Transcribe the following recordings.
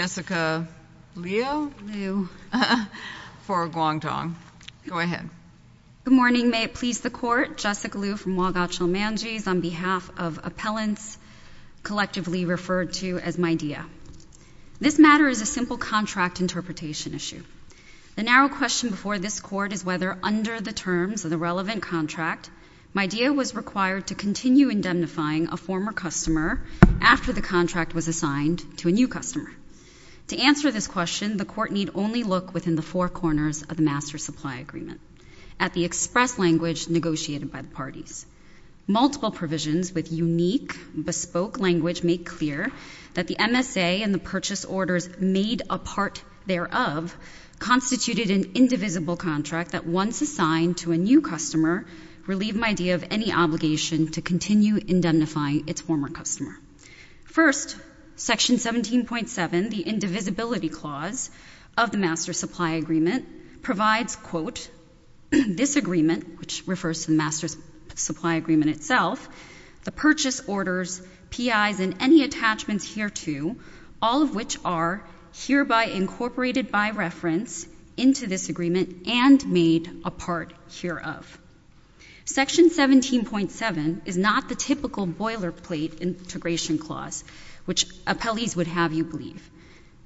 Jessica Liu for Guangdong. Go ahead. Good morning. May it please the Court. Jessica Liu from WaGaChil Manji's on behalf of appellants collectively referred to as Midea. This matter is a simple contract interpretation issue. The narrow question before this Court is whether, under the terms of the relevant contract, Midea was required to continue indemnifying a former customer after the contract was assigned to a new customer. To answer this question, the Court need only look within the four corners of the Master Supply Agreement, at the express language negotiated by the parties. Multiple provisions with unique, bespoke language make clear that the MSA and the purchase orders made a part thereof constituted an indivisible contract that, once assigned to a new customer, relieved Midea of any obligation to continue indemnifying its former customer. First, Section 17.7, the Indivisibility Clause of the Master Supply Agreement, provides, quote, this agreement, which refers to the Master Supply Agreement itself, the purchase orders, PIs, and any attachments hereto, all of which are hereby incorporated by reference into this agreement and made a part hereof. Section 17.7 is not the typical boilerplate integration clause which appellees would have you believe.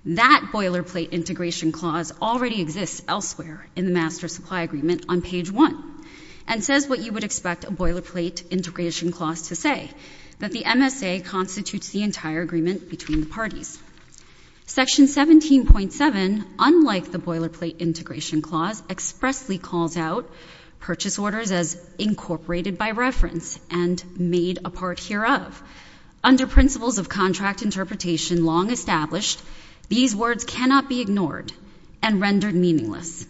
That boilerplate integration clause already exists elsewhere in the Master Supply Agreement on page 1 and says what you would expect a boilerplate integration clause to say, that the MSA constitutes the entire agreement between the parties. Section 17.7, unlike the boilerplate integration clause, expressly calls out purchase orders as incorporated by reference and made a part hereof. Under principles of contract interpretation long established, these words cannot be ignored and rendered meaningless.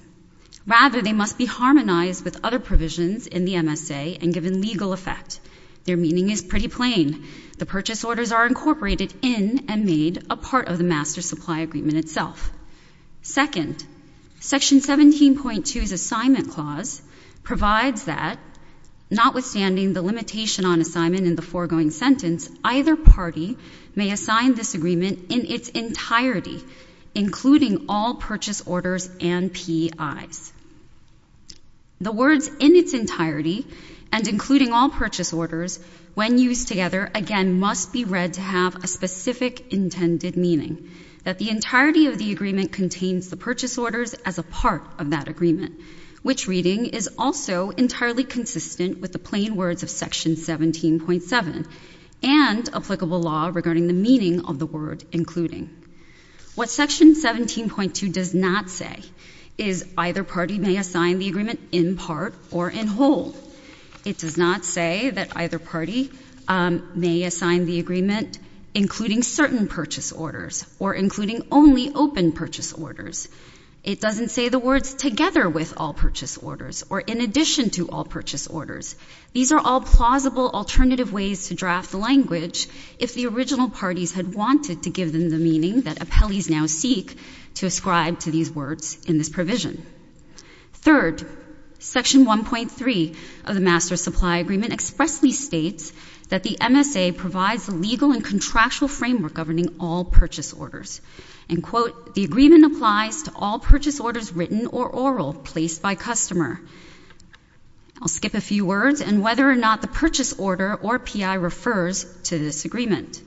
Rather, they must be harmonized with other provisions in the MSA and given legal effect. Their meaning is pretty plain. The purchase orders are incorporated in and made a part of the Master Supply Agreement itself. Second, Section 17.2's assignment clause provides that, notwithstanding the limitation on assignment in the foregoing sentence, either party may assign this agreement in its entirety, including all purchase orders and PIs. The words in its entirety and including all purchase orders, when used together, again have a specific intended meaning, that the entirety of the agreement contains the purchase orders as a part of that agreement, which reading is also entirely consistent with the plain words of Section 17.7 and applicable law regarding the meaning of the word including. What Section 17.2 does not say is either party may assign the agreement in part or in whole. It does not say that either party may assign the agreement including certain purchase orders or including only open purchase orders. It doesn't say the words together with all purchase orders or in addition to all purchase orders. These are all plausible alternative ways to draft the language if the original parties had wanted to give them the meaning that appellees now seek to ascribe to these words in this provision. Third, Section 1.3 of the Master Supply Agreement expressly states that the MSA provides a legal and contractual framework governing all purchase orders. And, quote, the agreement applies to all purchase orders written or oral placed by customer. I'll skip a few words and whether or not the purchase order or P.I. refers to this agreement.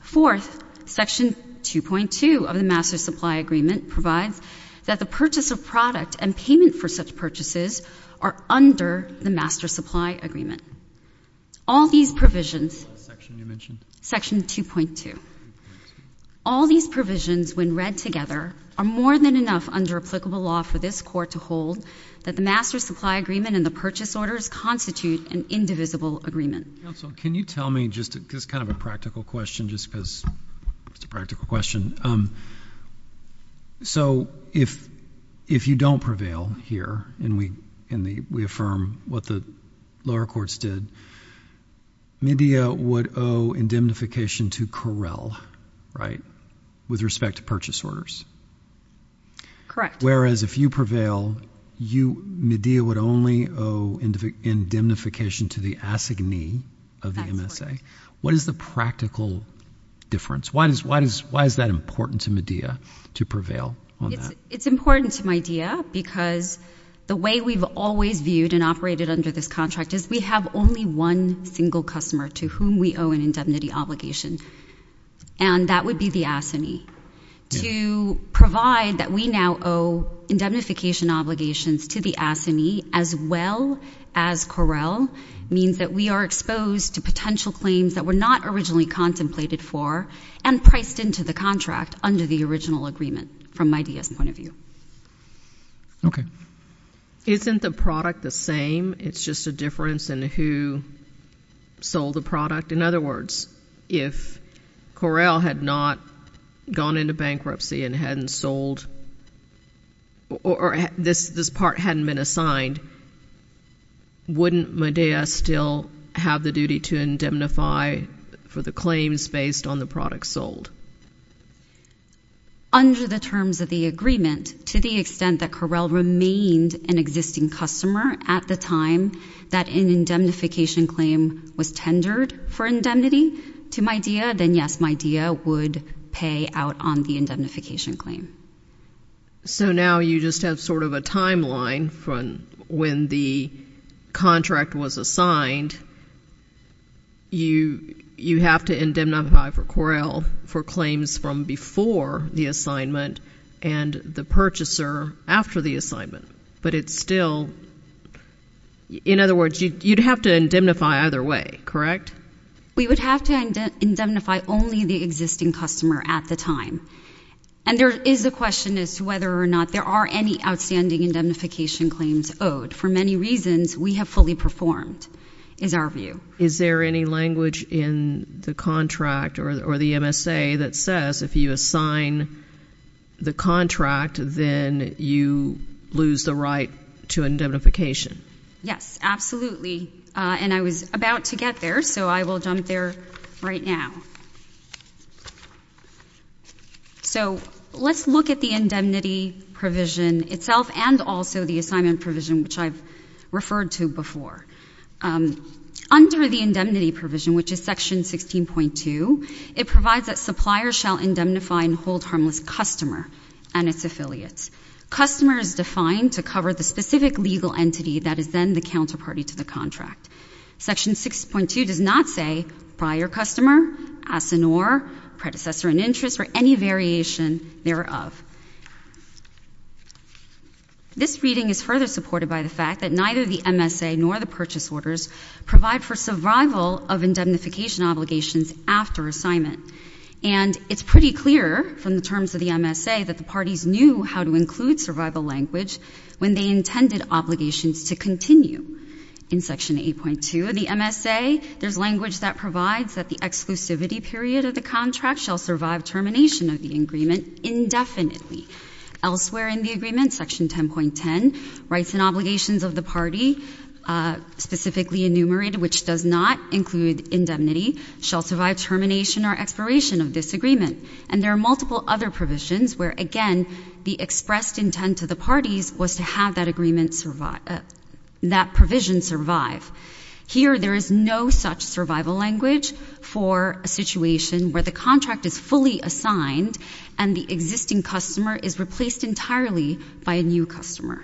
Fourth, Section 2.2 of the Master Supply Agreement provides that the purchase of product and payment for such purchases are under the Master Supply Agreement. All these provisions Section 2.2. All these provisions when read together are more than enough under applicable law for this Court to hold that the Master Supply Agreement and the purchase orders constitute an indivisible agreement. Counsel, can you tell me just kind of a practical question just because it's a practical question. So if you don't prevail here and we affirm what the lower courts did, MIDEA would owe indemnification to Correll, right, with respect to purchase orders. Correct. Whereas if you prevail, MIDEA would only owe indemnification to the assignee of the MSA. What is the practical difference? Why is that important to MIDEA to prevail on that? It's important to MIDEA because the way we've always viewed and operated under this contract is we have only one single customer to whom we owe an indemnity obligation. And that would be the assignee. To provide that we now owe indemnification obligations to the assignee as well as Correll means that we are exposed to potential claims that were not originally contemplated for and priced into the contract under the original agreement from MIDEA's point of view. Okay. Isn't the product the same? It's just a difference in who sold the product? In other words, if Correll had not gone into bankruptcy and hadn't sold or this part hadn't been assigned, wouldn't MIDEA still have the duty to indemnify for the claims based on the product sold? Under the terms of the agreement, to the extent that Correll remained an existing customer at the time that an indemnification claim was tendered for indemnity to MIDEA, then yes, MIDEA would pay out on the indemnification claim. So now you just have sort of a timeline from when the contract was assigned. You have to indemnify for Correll for claims from before the assignment and the purchaser after the assignment. But it's still, in other words, you'd have to indemnify either way, correct? We would have to indemnify only the existing customer at the time. And there is a question as to whether or not there are any outstanding indemnification claims owed. For many reasons, we have fully performed, is our view. Is there any language in the contract or the MSA that says if you assign the contract, then you lose the right to indemnification? Yes, absolutely. And I was about to get there, so I will jump there right now. So let's look at the indemnity provision itself and also the assignment provision, which I've referred to before. Under the indemnity provision, which is Section 16.2, it provides that suppliers shall indemnify and hold harmless customer and its affiliates. Customer is defined to cover the specific legal entity that is then the counterparty to the contract. Section 6.2 does not say prior customer, as in or, predecessor in interest, or any variation thereof. This reading is further supported by the fact that neither the MSA nor the purchase orders provide for survival of indemnification obligations after assignment. And it's pretty clear from the terms of the MSA that the parties knew how to include survival language when they intended obligations to continue. In Section 8.2 of the MSA, there's language that provides that the exclusivity period of the contract shall survive termination of the agreement indefinitely. Elsewhere in the agreement, Section 10.10 writes in obligations of the entity, specifically enumerated, which does not include indemnity, shall survive termination or expiration of this agreement. And there are multiple other provisions where, again, the expressed intent to the parties was to have that agreement survive, that provision survive. Here, there is no such survival language for a situation where the contract is fully assigned and the existing customer is replaced entirely by a new customer.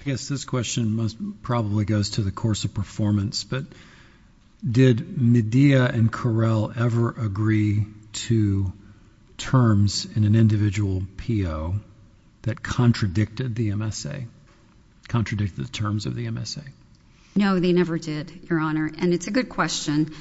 I guess this question probably goes to the course of performance, but did Medea and Correll ever agree to terms in an individual PO that contradicted the MSA, contradicted the terms of the MSA? No, they never did, Your Honor. And it's a good question.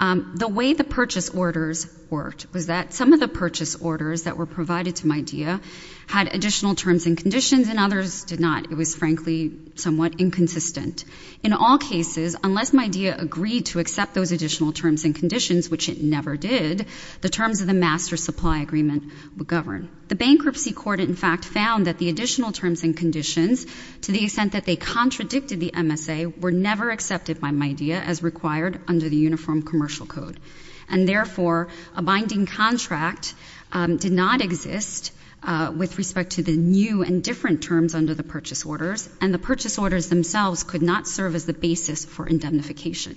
The way the purchase orders worked was that some of the purchase orders that were provided to Medea had additional terms and conditions and others did not. It was, frankly, somewhat inconsistent. In all cases, unless Medea agreed to accept those additional terms and conditions, which it never did, the terms of the master supply agreement would govern. The bankruptcy court, in fact, found that the additional terms and conditions, to the extent that they contradicted the MSA, were never accepted by Medea as required under the Uniform Commercial Code. And therefore, a binding contract did not exist with respect to the new and different terms under the purchase orders, and the purchase orders themselves could not serve as the basis for indemnification.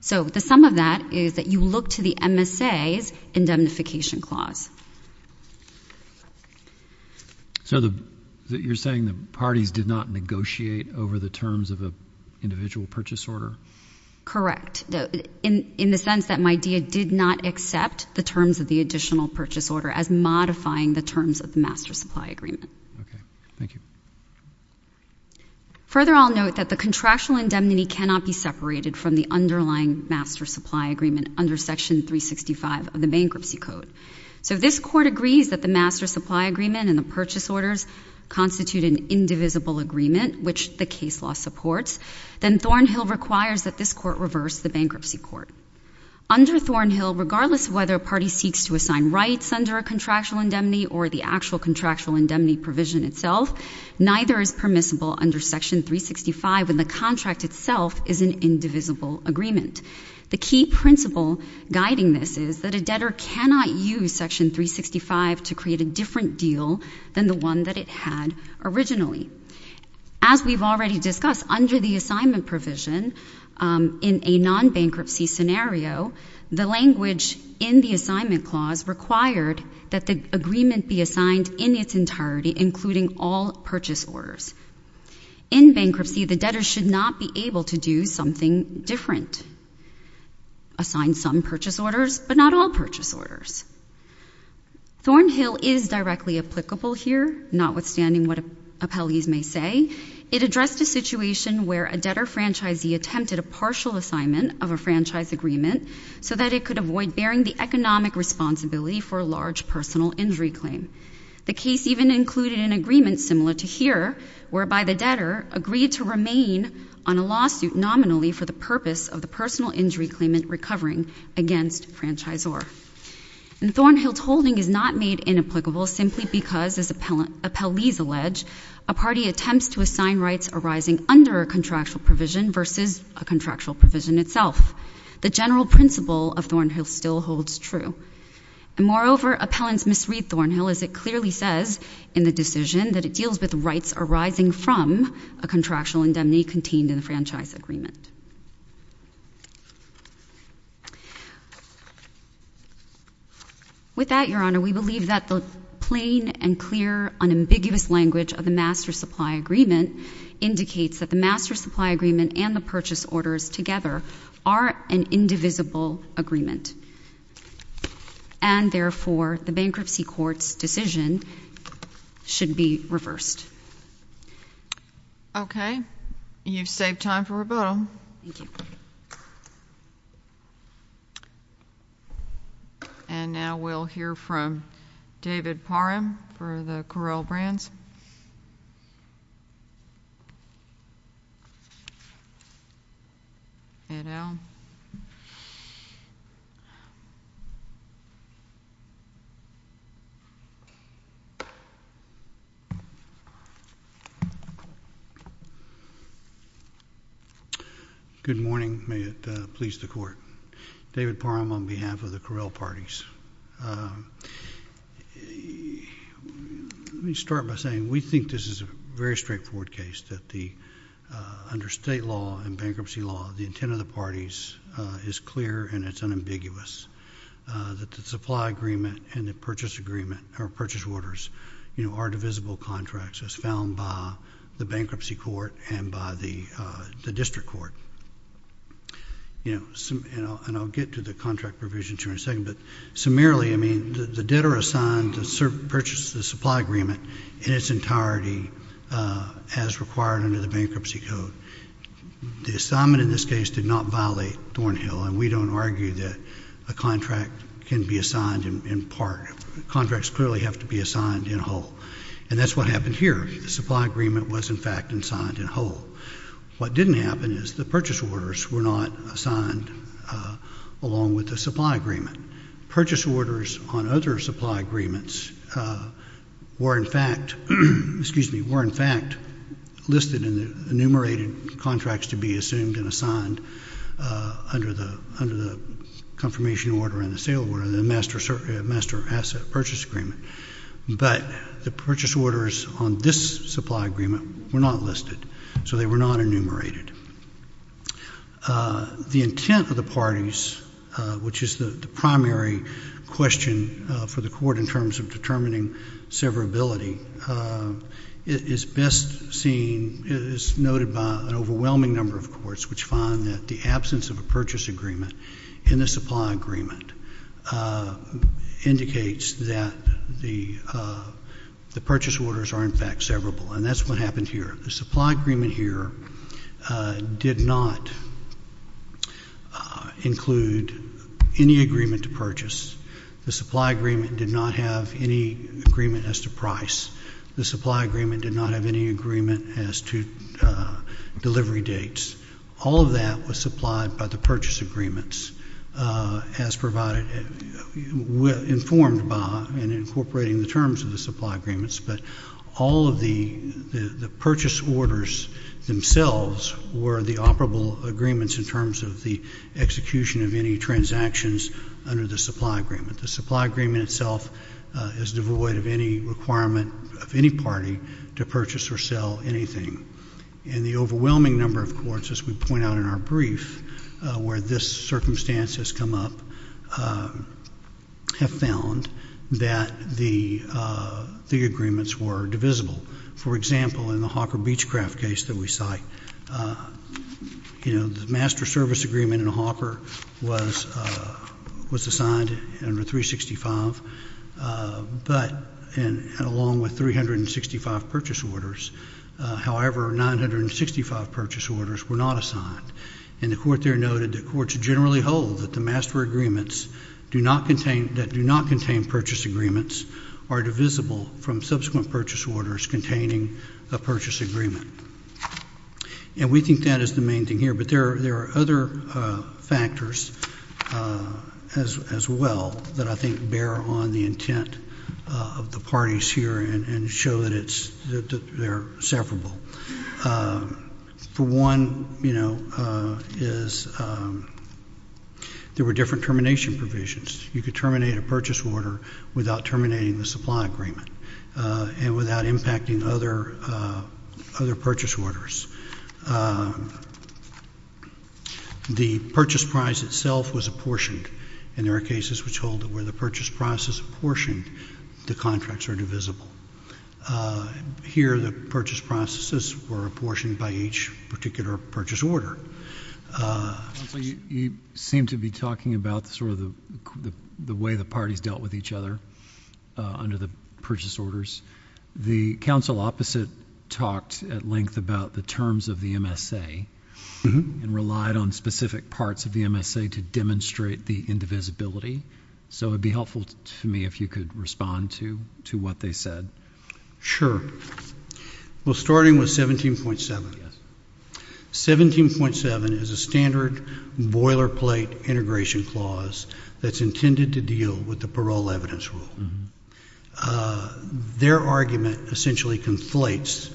So the sum of that is that you look to the MSA's indemnification clause. So you're saying the parties did not negotiate over the terms of an individual purchase order? Correct. In the sense that Medea did not accept the terms of the additional purchase order as modifying the terms of the master supply agreement. Okay. Thank you. Further, I'll note that the contractual indemnity cannot be separated from the underlying master supply agreement under Section 365 of the Bankruptcy Code. So if this Court agrees that the master supply agreement and the purchase orders constitute an indivisible agreement, which the case law supports, then Thornhill requires that this Court reverse the bankruptcy court. Under Thornhill, regardless of whether a party seeks to assign rights under a contractual indemnity or the actual contractual indemnity provision itself, neither is permissible under Section 365 when the contract itself is an indivisible agreement. The key principle guiding this is that a debtor cannot use Section 365 to create a different deal than the one that it had originally. As we've already discussed, under the assignment provision, in a non-bankruptcy scenario, the language in the assignment clause required that the agreement be assigned in its entirety, including all purchase orders. In bankruptcy, the debtor should not be able to do something different, assign some purchase orders, but not all purchase orders. Thornhill is directly applicable here, notwithstanding what appellees may say. It addressed a situation where a debtor franchisee attempted a partial assignment of a franchise agreement so that it could avoid bearing the economic responsibility for a large personal injury claim. The case even included an agreement similar to here, whereby the debtor agreed to remain on a lawsuit nominally for the purpose of the personal injury claimant recovering against a franchisor. Thornhill's holding is not made inapplicable simply because, as appellees allege, a party attempts to assign rights arising under a contractual provision versus a contractual provision itself. The general principle of Thornhill still holds true. Moreover, appellants misread Thornhill as it clearly says in the decision that it deals with rights arising from a contractual indemnity contained in the franchise agreement. With that, Your Honor, we believe that the plain and clear, unambiguous language of the master supply agreement indicates that the master supply agreement and the purchase orders together are an indivisible agreement, and therefore the bankruptcy court's decision should be reversed. Okay. You've saved time for rebuttal. And now we'll hear from David Parham for the Correll Brands. Ed Owen. Good morning. May it please the Court. David Parham on behalf of the Correll Parties. Let me start by saying we think this is a very straightforward case, that under state law and bankruptcy law, the intent of the parties is clear and it's unambiguous that the supply agreement and the purchase agreement or purchase orders are divisible contracts as found by the bankruptcy court and by the district court. And I'll get to the contract provision here in a second, but summarily, I mean, the debtor is assigned to purchase the supply agreement in its entirety as required under the bankruptcy code. The assignment in this case did not violate Thornhill, and we don't argue that a contract can be assigned in part. Contracts clearly have to be assigned in whole. And that's what happened here. The supply agreement was, in fact, assigned in whole. What didn't happen is the purchase orders were not assigned along with the supply agreement. Purchase orders on other supply agreements were, in fact, listed in the enumerated contracts to be assumed and assigned under the confirmation order and the sale order of the master asset purchase agreement. But the purchase orders on this supply agreement were not listed, so they were not enumerated. The intent of the parties, which is the primary question for the court in terms of determining severability, is best seen, is noted by an overwhelming number of courts which find that the absence of a purchase agreement in the supply agreement indicates that the purchase orders were not in fact severable. And that's what happened here. The supply agreement here did not include any agreement to purchase. The supply agreement did not have any agreement as to price. The supply agreement did not have any agreement as to delivery dates. All of that was supplied by the purchase agreements as provided, informed by and incorporating the terms of the supply agreements. But all of the purchase orders themselves were the operable agreements in terms of the execution of any transactions under the supply agreement. The supply agreement itself is devoid of any requirement of any party to purchase or sell anything. And the overwhelming number of courts, as we point out in our brief where this circumstance has come up, have found that the agreements were divisible. For example, in the Hawker Beechcraft case that we cite, you know, the master service agreement in Hawker was assigned under 365, but along with 365 purchase orders, however, 965 purchase orders were not assigned. And the court there noted that courts generally hold that the master agreements that do not contain purchase agreements are divisible from subsequent purchase orders containing a purchase agreement. And we think that is the main thing here. But there are other factors as well that I think bear on the intent of the parties here and show that they're severable. For one, you know, is there were different termination provisions. You could terminate a purchase order without terminating the supply agreement and without impacting other purchase orders. The purchase price itself was apportioned, and there are cases which hold that where the purchase prices were apportioned by each particular purchase order. You seem to be talking about sort of the way the parties dealt with each other under the purchase orders. The counsel opposite talked at length about the terms of the MSA and relied on specific parts of the MSA to demonstrate the indivisibility. So it would be helpful to me if you could respond to what they said. Sure. Well, starting with 17.7. 17.7 is a standard boilerplate integration clause that's intended to deal with the parole evidence rule. Their argument essentially conflates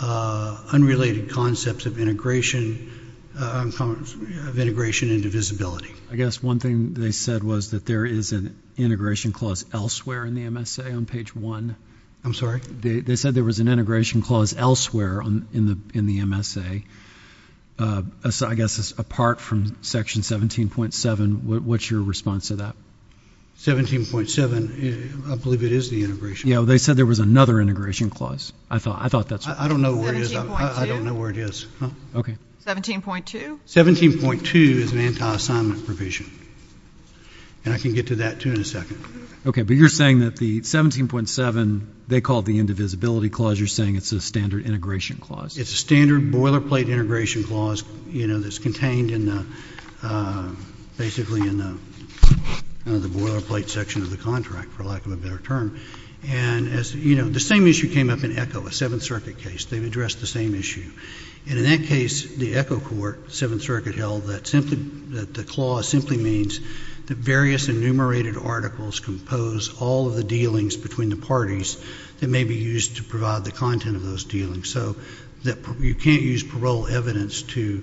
unrelated concepts of integration into visibility. I guess one thing they said was that there is an integration clause elsewhere in the MSA on page 1. I'm sorry? They said there was an integration clause elsewhere in the MSA. So I guess apart from section 17.7, what's your response to that? 17.7, I believe it is the integration clause. Yeah, well, they said there was another integration clause. I thought that's what they said. I don't know where it is. 17.2? 17.2 is an anti-assignment provision. And I can get to that, too, in a second. Okay. But you're saying that the 17.7, they call it the indivisibility clause. You're saying it's a standard integration clause. It's a standard boilerplate integration clause, you know, that's contained in the, basically in the boilerplate section of the contract, for lack of a better term. And as, you know, the same issue came up in ECHO, a Seventh Circuit case. They've addressed the same issue. And in that case, the ECHO court, Seventh Circuit, held that simply, that the clause simply means that various enumerated articles compose all of the dealings between the parties that may be used to provide the content of those dealings. So that you can't use parole evidence to,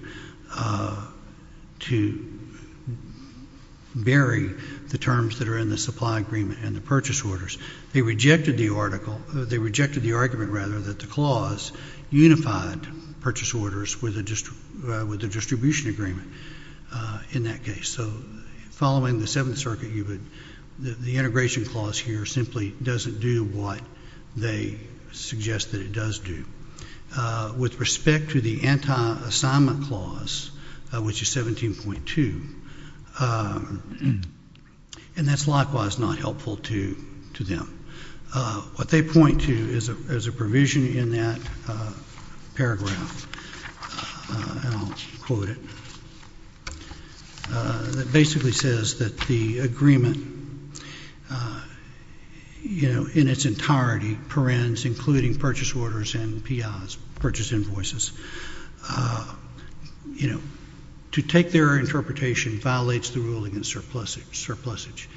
to bury the terms that are in the supply agreement and the purchase orders. They rejected the article, they rejected the argument, rather, that the clause unified purchase orders with a distribution agreement in that case. So, following the Seventh Circuit, the integration clause here simply doesn't do what they suggest that it does do. With respect to the anti-assignment clause, which is 17.2, and that's likewise not helpful to, to them. What they point to is a, is a provision in that paragraph, and I'll quote it, that basically says that the agreement, you know, in its entirety, parens including purchase orders and PIs, purchase invoices, you know, to take their interpretation violates the rule against surplusage, surplusage.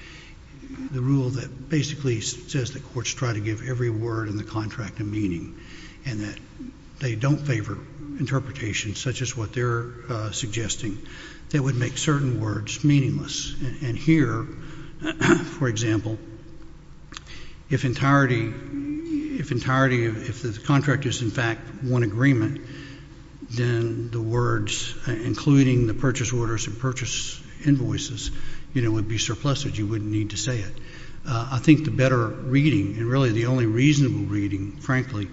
The rule that basically says that courts try to give every word in the contract a meaning, and that they don't favor interpretations such as what they're suggesting, that would make certain words meaningless. And here, for example, if entirety, if entirety, if the contract is in fact one agreement, then the words including the purchase orders and purchase invoices, you know, would be surplusage. You wouldn't need to say it. I think the better reading, and really the only reasonable reading, frankly,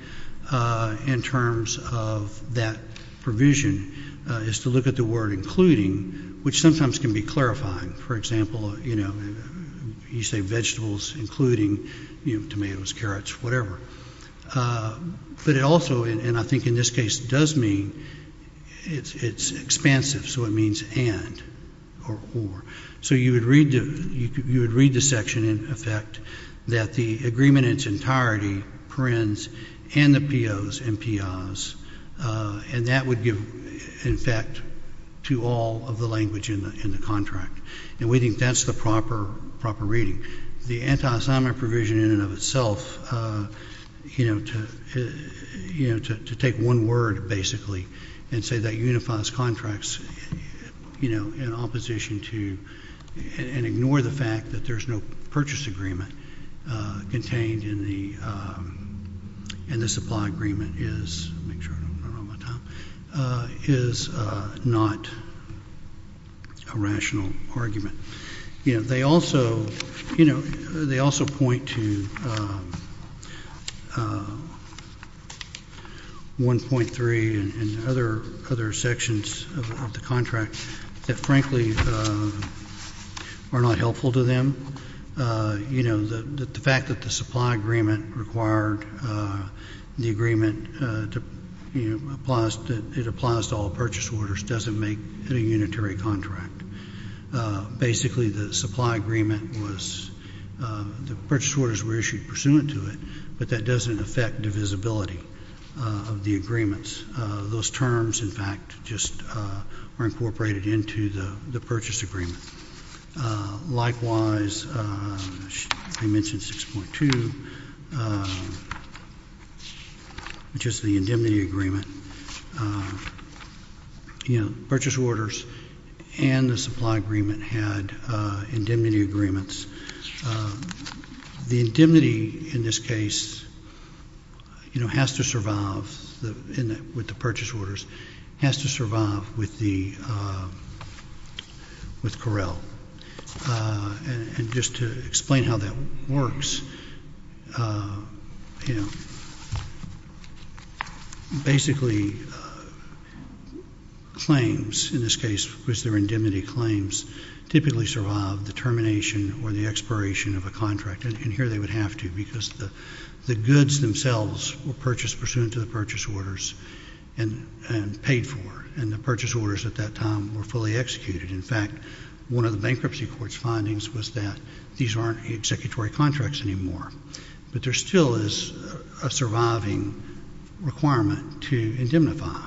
in terms of that provision, is to look at the word including, which sometimes can be clarifying. For example, you know, you say vegetables including, you know, tomatoes, carrots, whatever. But it also, and I think in this case does mean, it's expansive, so it means and or or. So you would read the section in effect that the agreement in its entirety, parens, and the POs and PIs, and that would give, in fact, to all of the language in the contract. And we think that's the proper reading. The anti-assignment provision in and of itself, you know, to take one word, basically, and say that unifies contracts, you know, in opposition to, and ignore the fact that there's no purchase agreement contained in the, in the supply agreement is, make sure I don't run out of time, is not a rational argument. You know, they also, you know, they also point to 1.3 and other other sections of the contract that, frankly, are not helpful to them. You know, the fact that the supply agreement required the agreement to, you know, it applies to all purchase orders doesn't make it a unitary contract. Basically, the supply agreement was, the purchase orders were issued pursuant to it, but that doesn't affect divisibility of the agreements. Those terms, in fact, just are incorporated into the the purchase agreement. Likewise, I mentioned 6.2, which is the indemnity agreement. You know, purchase orders and the supply agreement had indemnity agreements. The indemnity, in this case, you know, has to survive with the purchase orders, has to survive with the, with Correll. And just to explain how that works, you know, basically, claims, in this case, was there indemnity claims typically survive the termination or the expiration of a contract, and here they would have to because the goods themselves were purchased pursuant to the purchase orders and paid for, and the purchase orders at that time were fully executed. In fact, one of the bankruptcy court's findings was that these aren't executory contracts anymore, but there still is a surviving requirement to indemnify,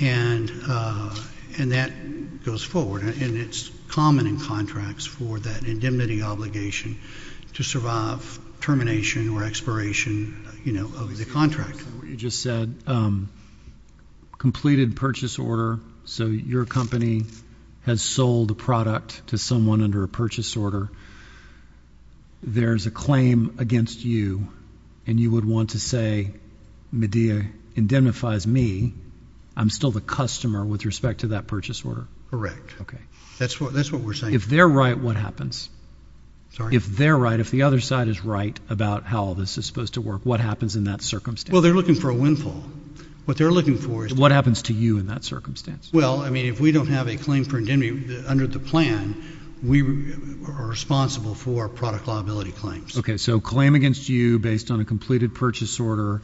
and that goes forward, and it's common in contracts for that indemnity obligation to survive termination or expiration, you know, of the contract. You just said, completed purchase order, so your company has sold a product to someone under a purchase order. There's a claim against you, and you would want to say, Medea indemnifies me. I'm still the customer with respect to that purchase order. Okay. That's what we're saying. If they're right, what happens? Sorry? If they're right, if the other side is right about how all this is supposed to work, what happens in that circumstance? Well, they're looking for a windfall. What they're looking for is— What happens to you in that circumstance? Well, I mean, if we don't have a claim for indemnity under the plan, we are responsible for product liability claims. Okay, so claim against you based on a completed purchase order,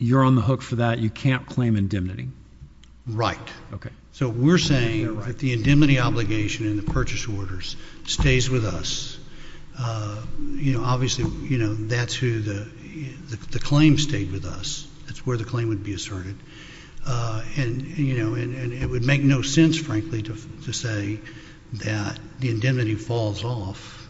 you're on the hook for that. You can't claim indemnity. Right. Okay. So we're saying if the indemnity obligation in the purchase orders stays with us, you know, obviously, you know, that's who the—the claim stayed with us. That's where the claim would be asserted, and, you know, and it would make no sense, frankly, to say that the indemnity falls off,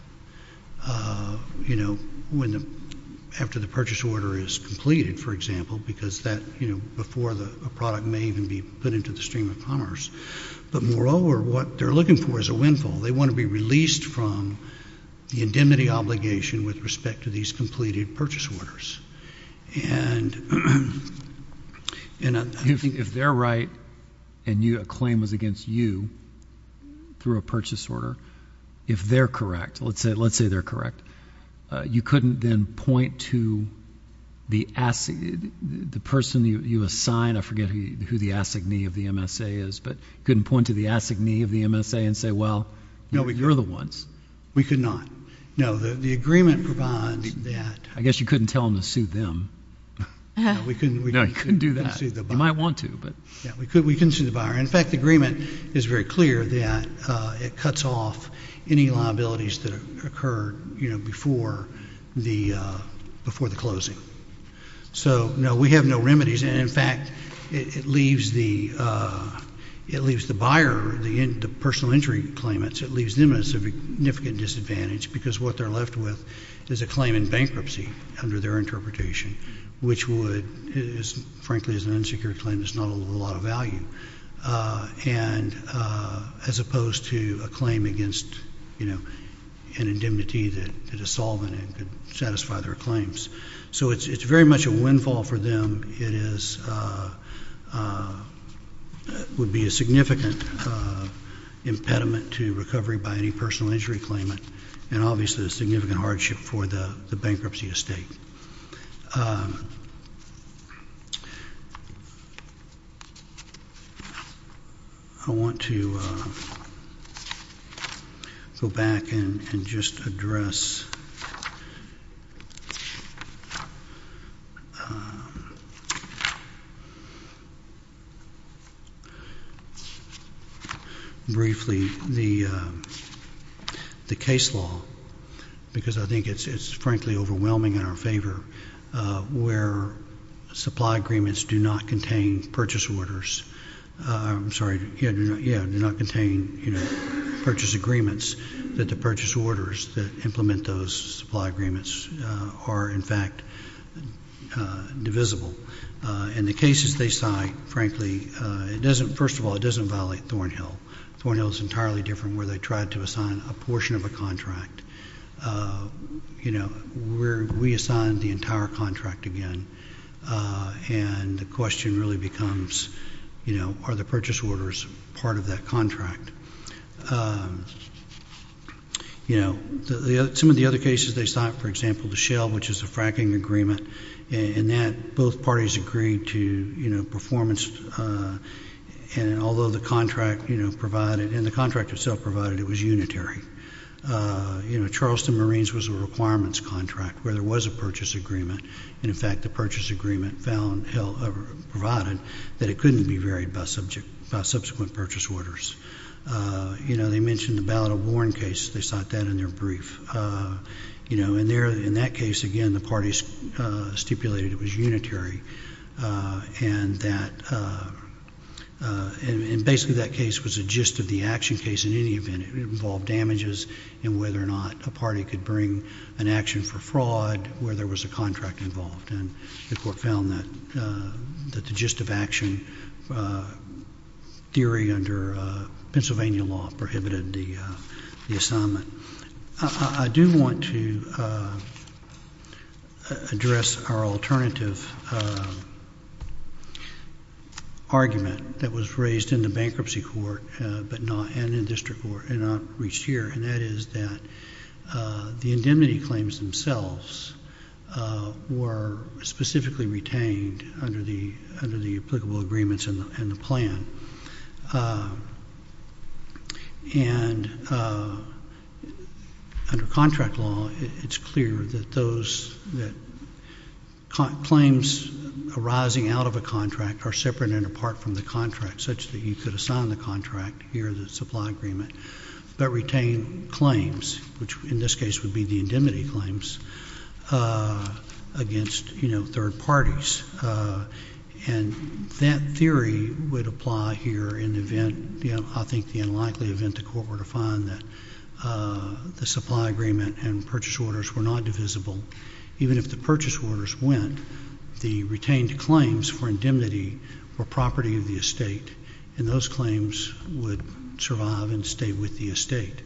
you know, when the—after the purchase order is completed, for example, because that, you know, before the product may even be put into the stream of commerce, but moreover, what they're looking for is a windfall. They want to be released from the indemnity obligation with respect to these completed purchase orders, and— If they're right and you—a claim was against you through a purchase order, if they're correct, let's say—let's say they're correct, you couldn't then point to the person you assign—I forget who the assignee of the MSA is, but you couldn't point to the assignee of the MSA and say, well, you're the ones. We could not. No. The agreement provides that— I guess you couldn't tell them to sue them. We couldn't— No, you couldn't do that. You might want to, but— Yeah. We couldn't sue the buyer. In fact, the agreement is very clear that it cuts off any liabilities that occurred, you know, before the closing. So no, we have no remedies, and in fact, it leaves the—it leaves the buyer, the personal injury claimants, it leaves them at a significant disadvantage because what they're left with is a claim in bankruptcy under their interpretation, which would—frankly, it's an insecure claim. It's not a lot of value, and—as opposed to a claim against, you know, an indemnity that is solvent and could satisfy their claims. So it's very much a windfall for them. It is—would be a significant impediment to recovery by any personal injury claimant, and obviously a significant hardship for the bankruptcy estate. I want to go back and just address briefly the— because I think it's, frankly, overwhelming in our favor, where supply agreements do not contain purchase orders—I'm sorry, yeah, do not contain, you know, purchase agreements that the purchase orders that implement those supply agreements are, in fact, divisible. In the cases they cite, frankly, it doesn't—first of all, it doesn't violate Thornhill. Thornhill is entirely different, where they tried to assign a portion of a contract. You know, we assigned the entire contract again, and the question really becomes, you know, are the purchase orders part of that contract? You know, some of the other cases they cite, for example, the Shell, which is a fracking agreement, and that both parties agreed to, you know, performance, and although the contract, you know, provided—and the contract itself provided, it was unitary. You know, Charleston Marines was a requirements contract, where there was a purchase agreement, and in fact, the purchase agreement found—provided that it couldn't be varied by subsequent purchase orders. You know, they mentioned the Ballad of Warren case. They cite that in their brief. You know, in that case, again, the parties stipulated it was unitary, and that—and basically, that case was a gist of the action case in any event. It involved damages and whether or not a party could bring an action for fraud where there was a contract involved, and the Court found that the gist of action theory under Pennsylvania law prohibited the assignment. I do want to address our alternative argument that was raised in the Bankruptcy Court, but not—and in the District Court, and not reached here, and that is that the indemnity claims themselves were specifically retained under the—under the applicable agreements and the plan, and under contract law, it's clear that those that—claims arising out of a contract are separate and apart from the contract, such that you could assign the contract here, the supply agreement, but retain claims, which in this case would be the indemnity claims, against, you know, third parties, and that theory would apply here in the event—you know, I think the unlikely event the Court were to find that the supply agreement and purchase orders were not divisible, even if the purchase orders went, the retained claims for indemnity were property of the estate, and those claims would survive and stay with the estate,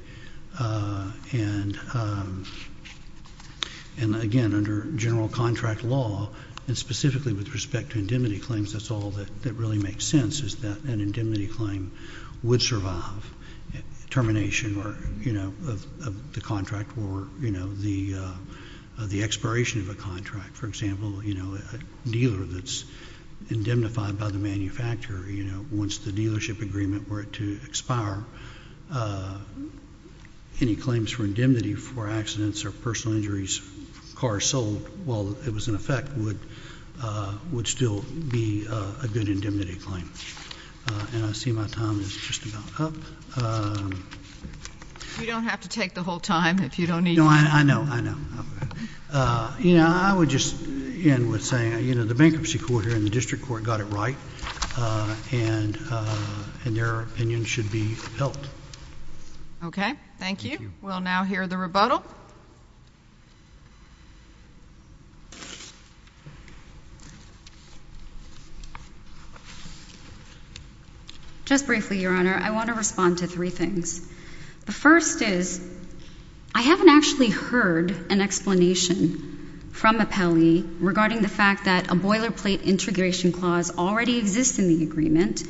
and, again, under general contract law, and specifically with respect to indemnity claims, that's all that really makes sense, is that an indemnity claim would survive termination or, you know, of the contract or, you know, the expiration of a contract. For example, you know, a dealer that's indemnified by the manufacturer, you know, once the dealership signed the agreement were it to expire, any claims for indemnity for accidents or personal injuries, cars sold while it was in effect, would still be a good indemnity claim. And I see my time is just about up. You don't have to take the whole time if you don't need to. No, I know. Okay. You know, I would just end with saying, you know, the bankruptcy court here and the district court got it right, and their opinion should be helped. Okay. Thank you. Thank you. We'll now hear the rebuttal. Just briefly, Your Honor, I want to respond to three things. The first is, I haven't actually heard an explanation from Appellee regarding the fact that a boilerplate integration clause already exists in the agreement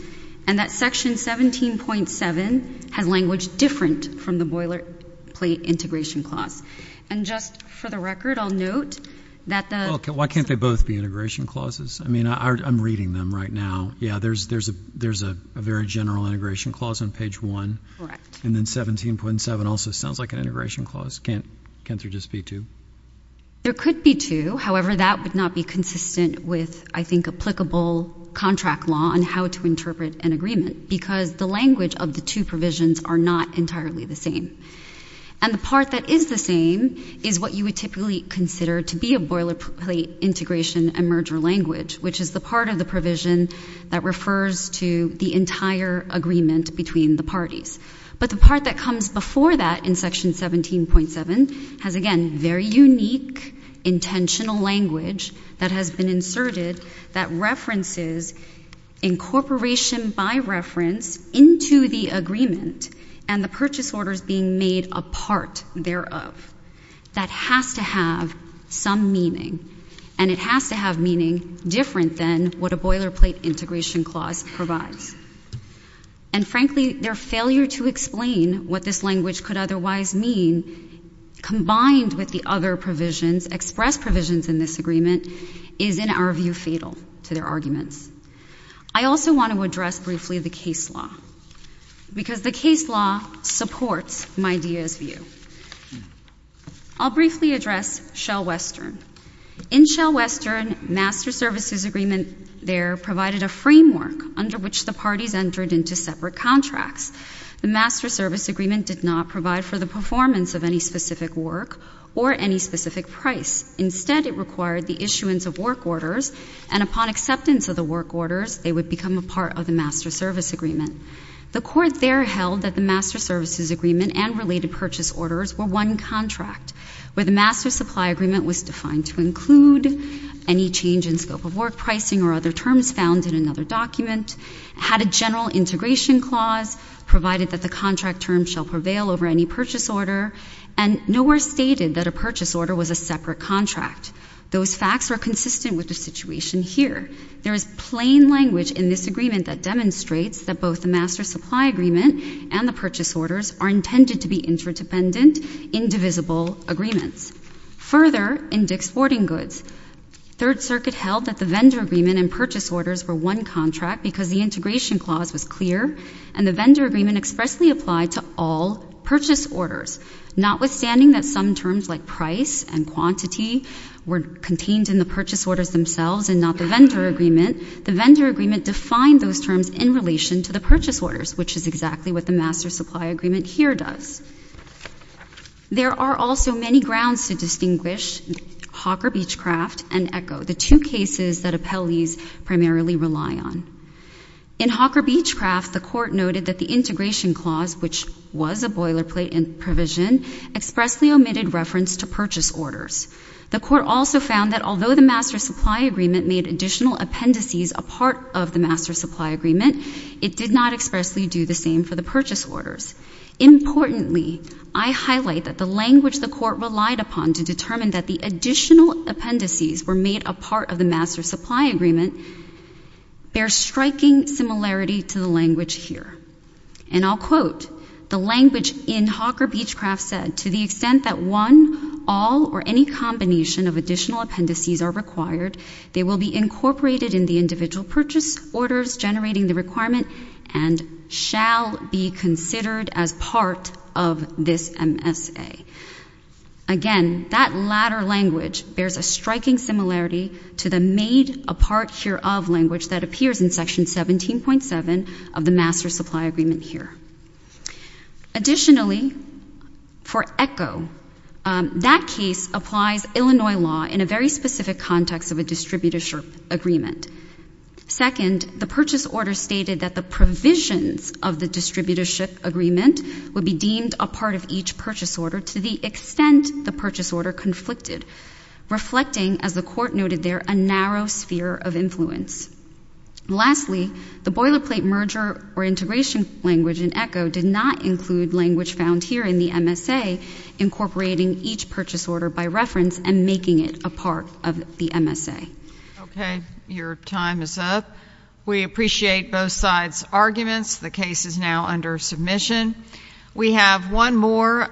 and that Section 17.7 has language different from the boilerplate integration clause. And just for the record, I'll note that the — Well, why can't they both be integration clauses? I mean, I'm reading them right now. Yeah, there's a very general integration clause on page 1. Correct. And then 17.7 also sounds like an integration clause. Can't there just be two? There could be two. However, that would not be consistent with, I think, applicable contract law on how to interpret an agreement, because the language of the two provisions are not entirely the same. And the part that is the same is what you would typically consider to be a boilerplate integration and merger language, which is the part of the provision that refers to the entire agreement between the parties. But the part that comes before that in Section 17.7 has, again, very unique intentional language that has been inserted that references incorporation by reference into the agreement and the purchase orders being made a part thereof. That has to have some meaning, and it has to have meaning different than what a boilerplate integration clause provides. And, frankly, their failure to explain what this language could otherwise mean, combined with the other provisions, express provisions in this agreement, is, in our view, fatal to their arguments. I also want to address briefly the case law, because the case law supports my idea's view. I'll briefly address Shell Western. In Shell Western, master services agreement there provided a framework under which the parties entered into separate contracts. The master service agreement did not provide for the performance of any specific work or any specific price. Instead, it required the issuance of work orders, and upon acceptance of the work orders, they would become a part of the master service agreement. The court there held that the master services agreement and related purchase orders were one contract, where the master supply agreement was defined to include any change in scope of work pricing or other terms found in another document, had a general integration clause provided that the contract term shall prevail over any purchase order, and nowhere stated that a purchase order was a separate contract. Those facts are consistent with the situation here. There is plain language in this agreement that demonstrates that both the master supply agreement and the purchase orders are intended to be interdependent, indivisible agreements. Further, in Dick's Sporting Goods, Third Circuit held that the vendor agreement and purchase orders were one contract because the integration clause was clear, and the vendor agreement expressly applied to all purchase orders, notwithstanding that some terms like price and quantity were contained in the purchase orders themselves and not the vendor agreement. The vendor agreement defined those terms in relation to the purchase orders, which is exactly what the master supply agreement here does. There are also many grounds to distinguish Hawker Beechcraft and ECHO, the two cases that appellees primarily rely on. In Hawker Beechcraft, the court noted that the integration clause, which was a boilerplate provision, expressly omitted reference to purchase orders. The court also found that although the master supply agreement made additional appendices apart of the master supply agreement, it did not expressly do the same for the purchase orders. Importantly, I highlight that the language the court relied upon to determine that the additional appendices were made apart of the master supply agreement bears striking similarity to the language here. And I'll quote, the language in Hawker Beechcraft said, to the extent that one, all, or any combination of additional appendices are required, they will be incorporated in the individual purchase orders generating the requirement and shall be considered as part of this MSA. Again, that latter language bears a striking similarity to the made apart hereof language that appears in Section 17.7 of the master supply agreement here. Additionally, for ECHO, that case applies Illinois law in a very specific context of distributorship agreement. Second, the purchase order stated that the provisions of the distributorship agreement would be deemed a part of each purchase order to the extent the purchase order conflicted, reflecting, as the court noted there, a narrow sphere of influence. Lastly, the boilerplate merger or integration language in ECHO did not include language found here in the MSA incorporating each purchase order by reference and making it a part of the MSA. Okay. Your time is up. We appreciate both sides' arguments. The case is now under submission. We have one more.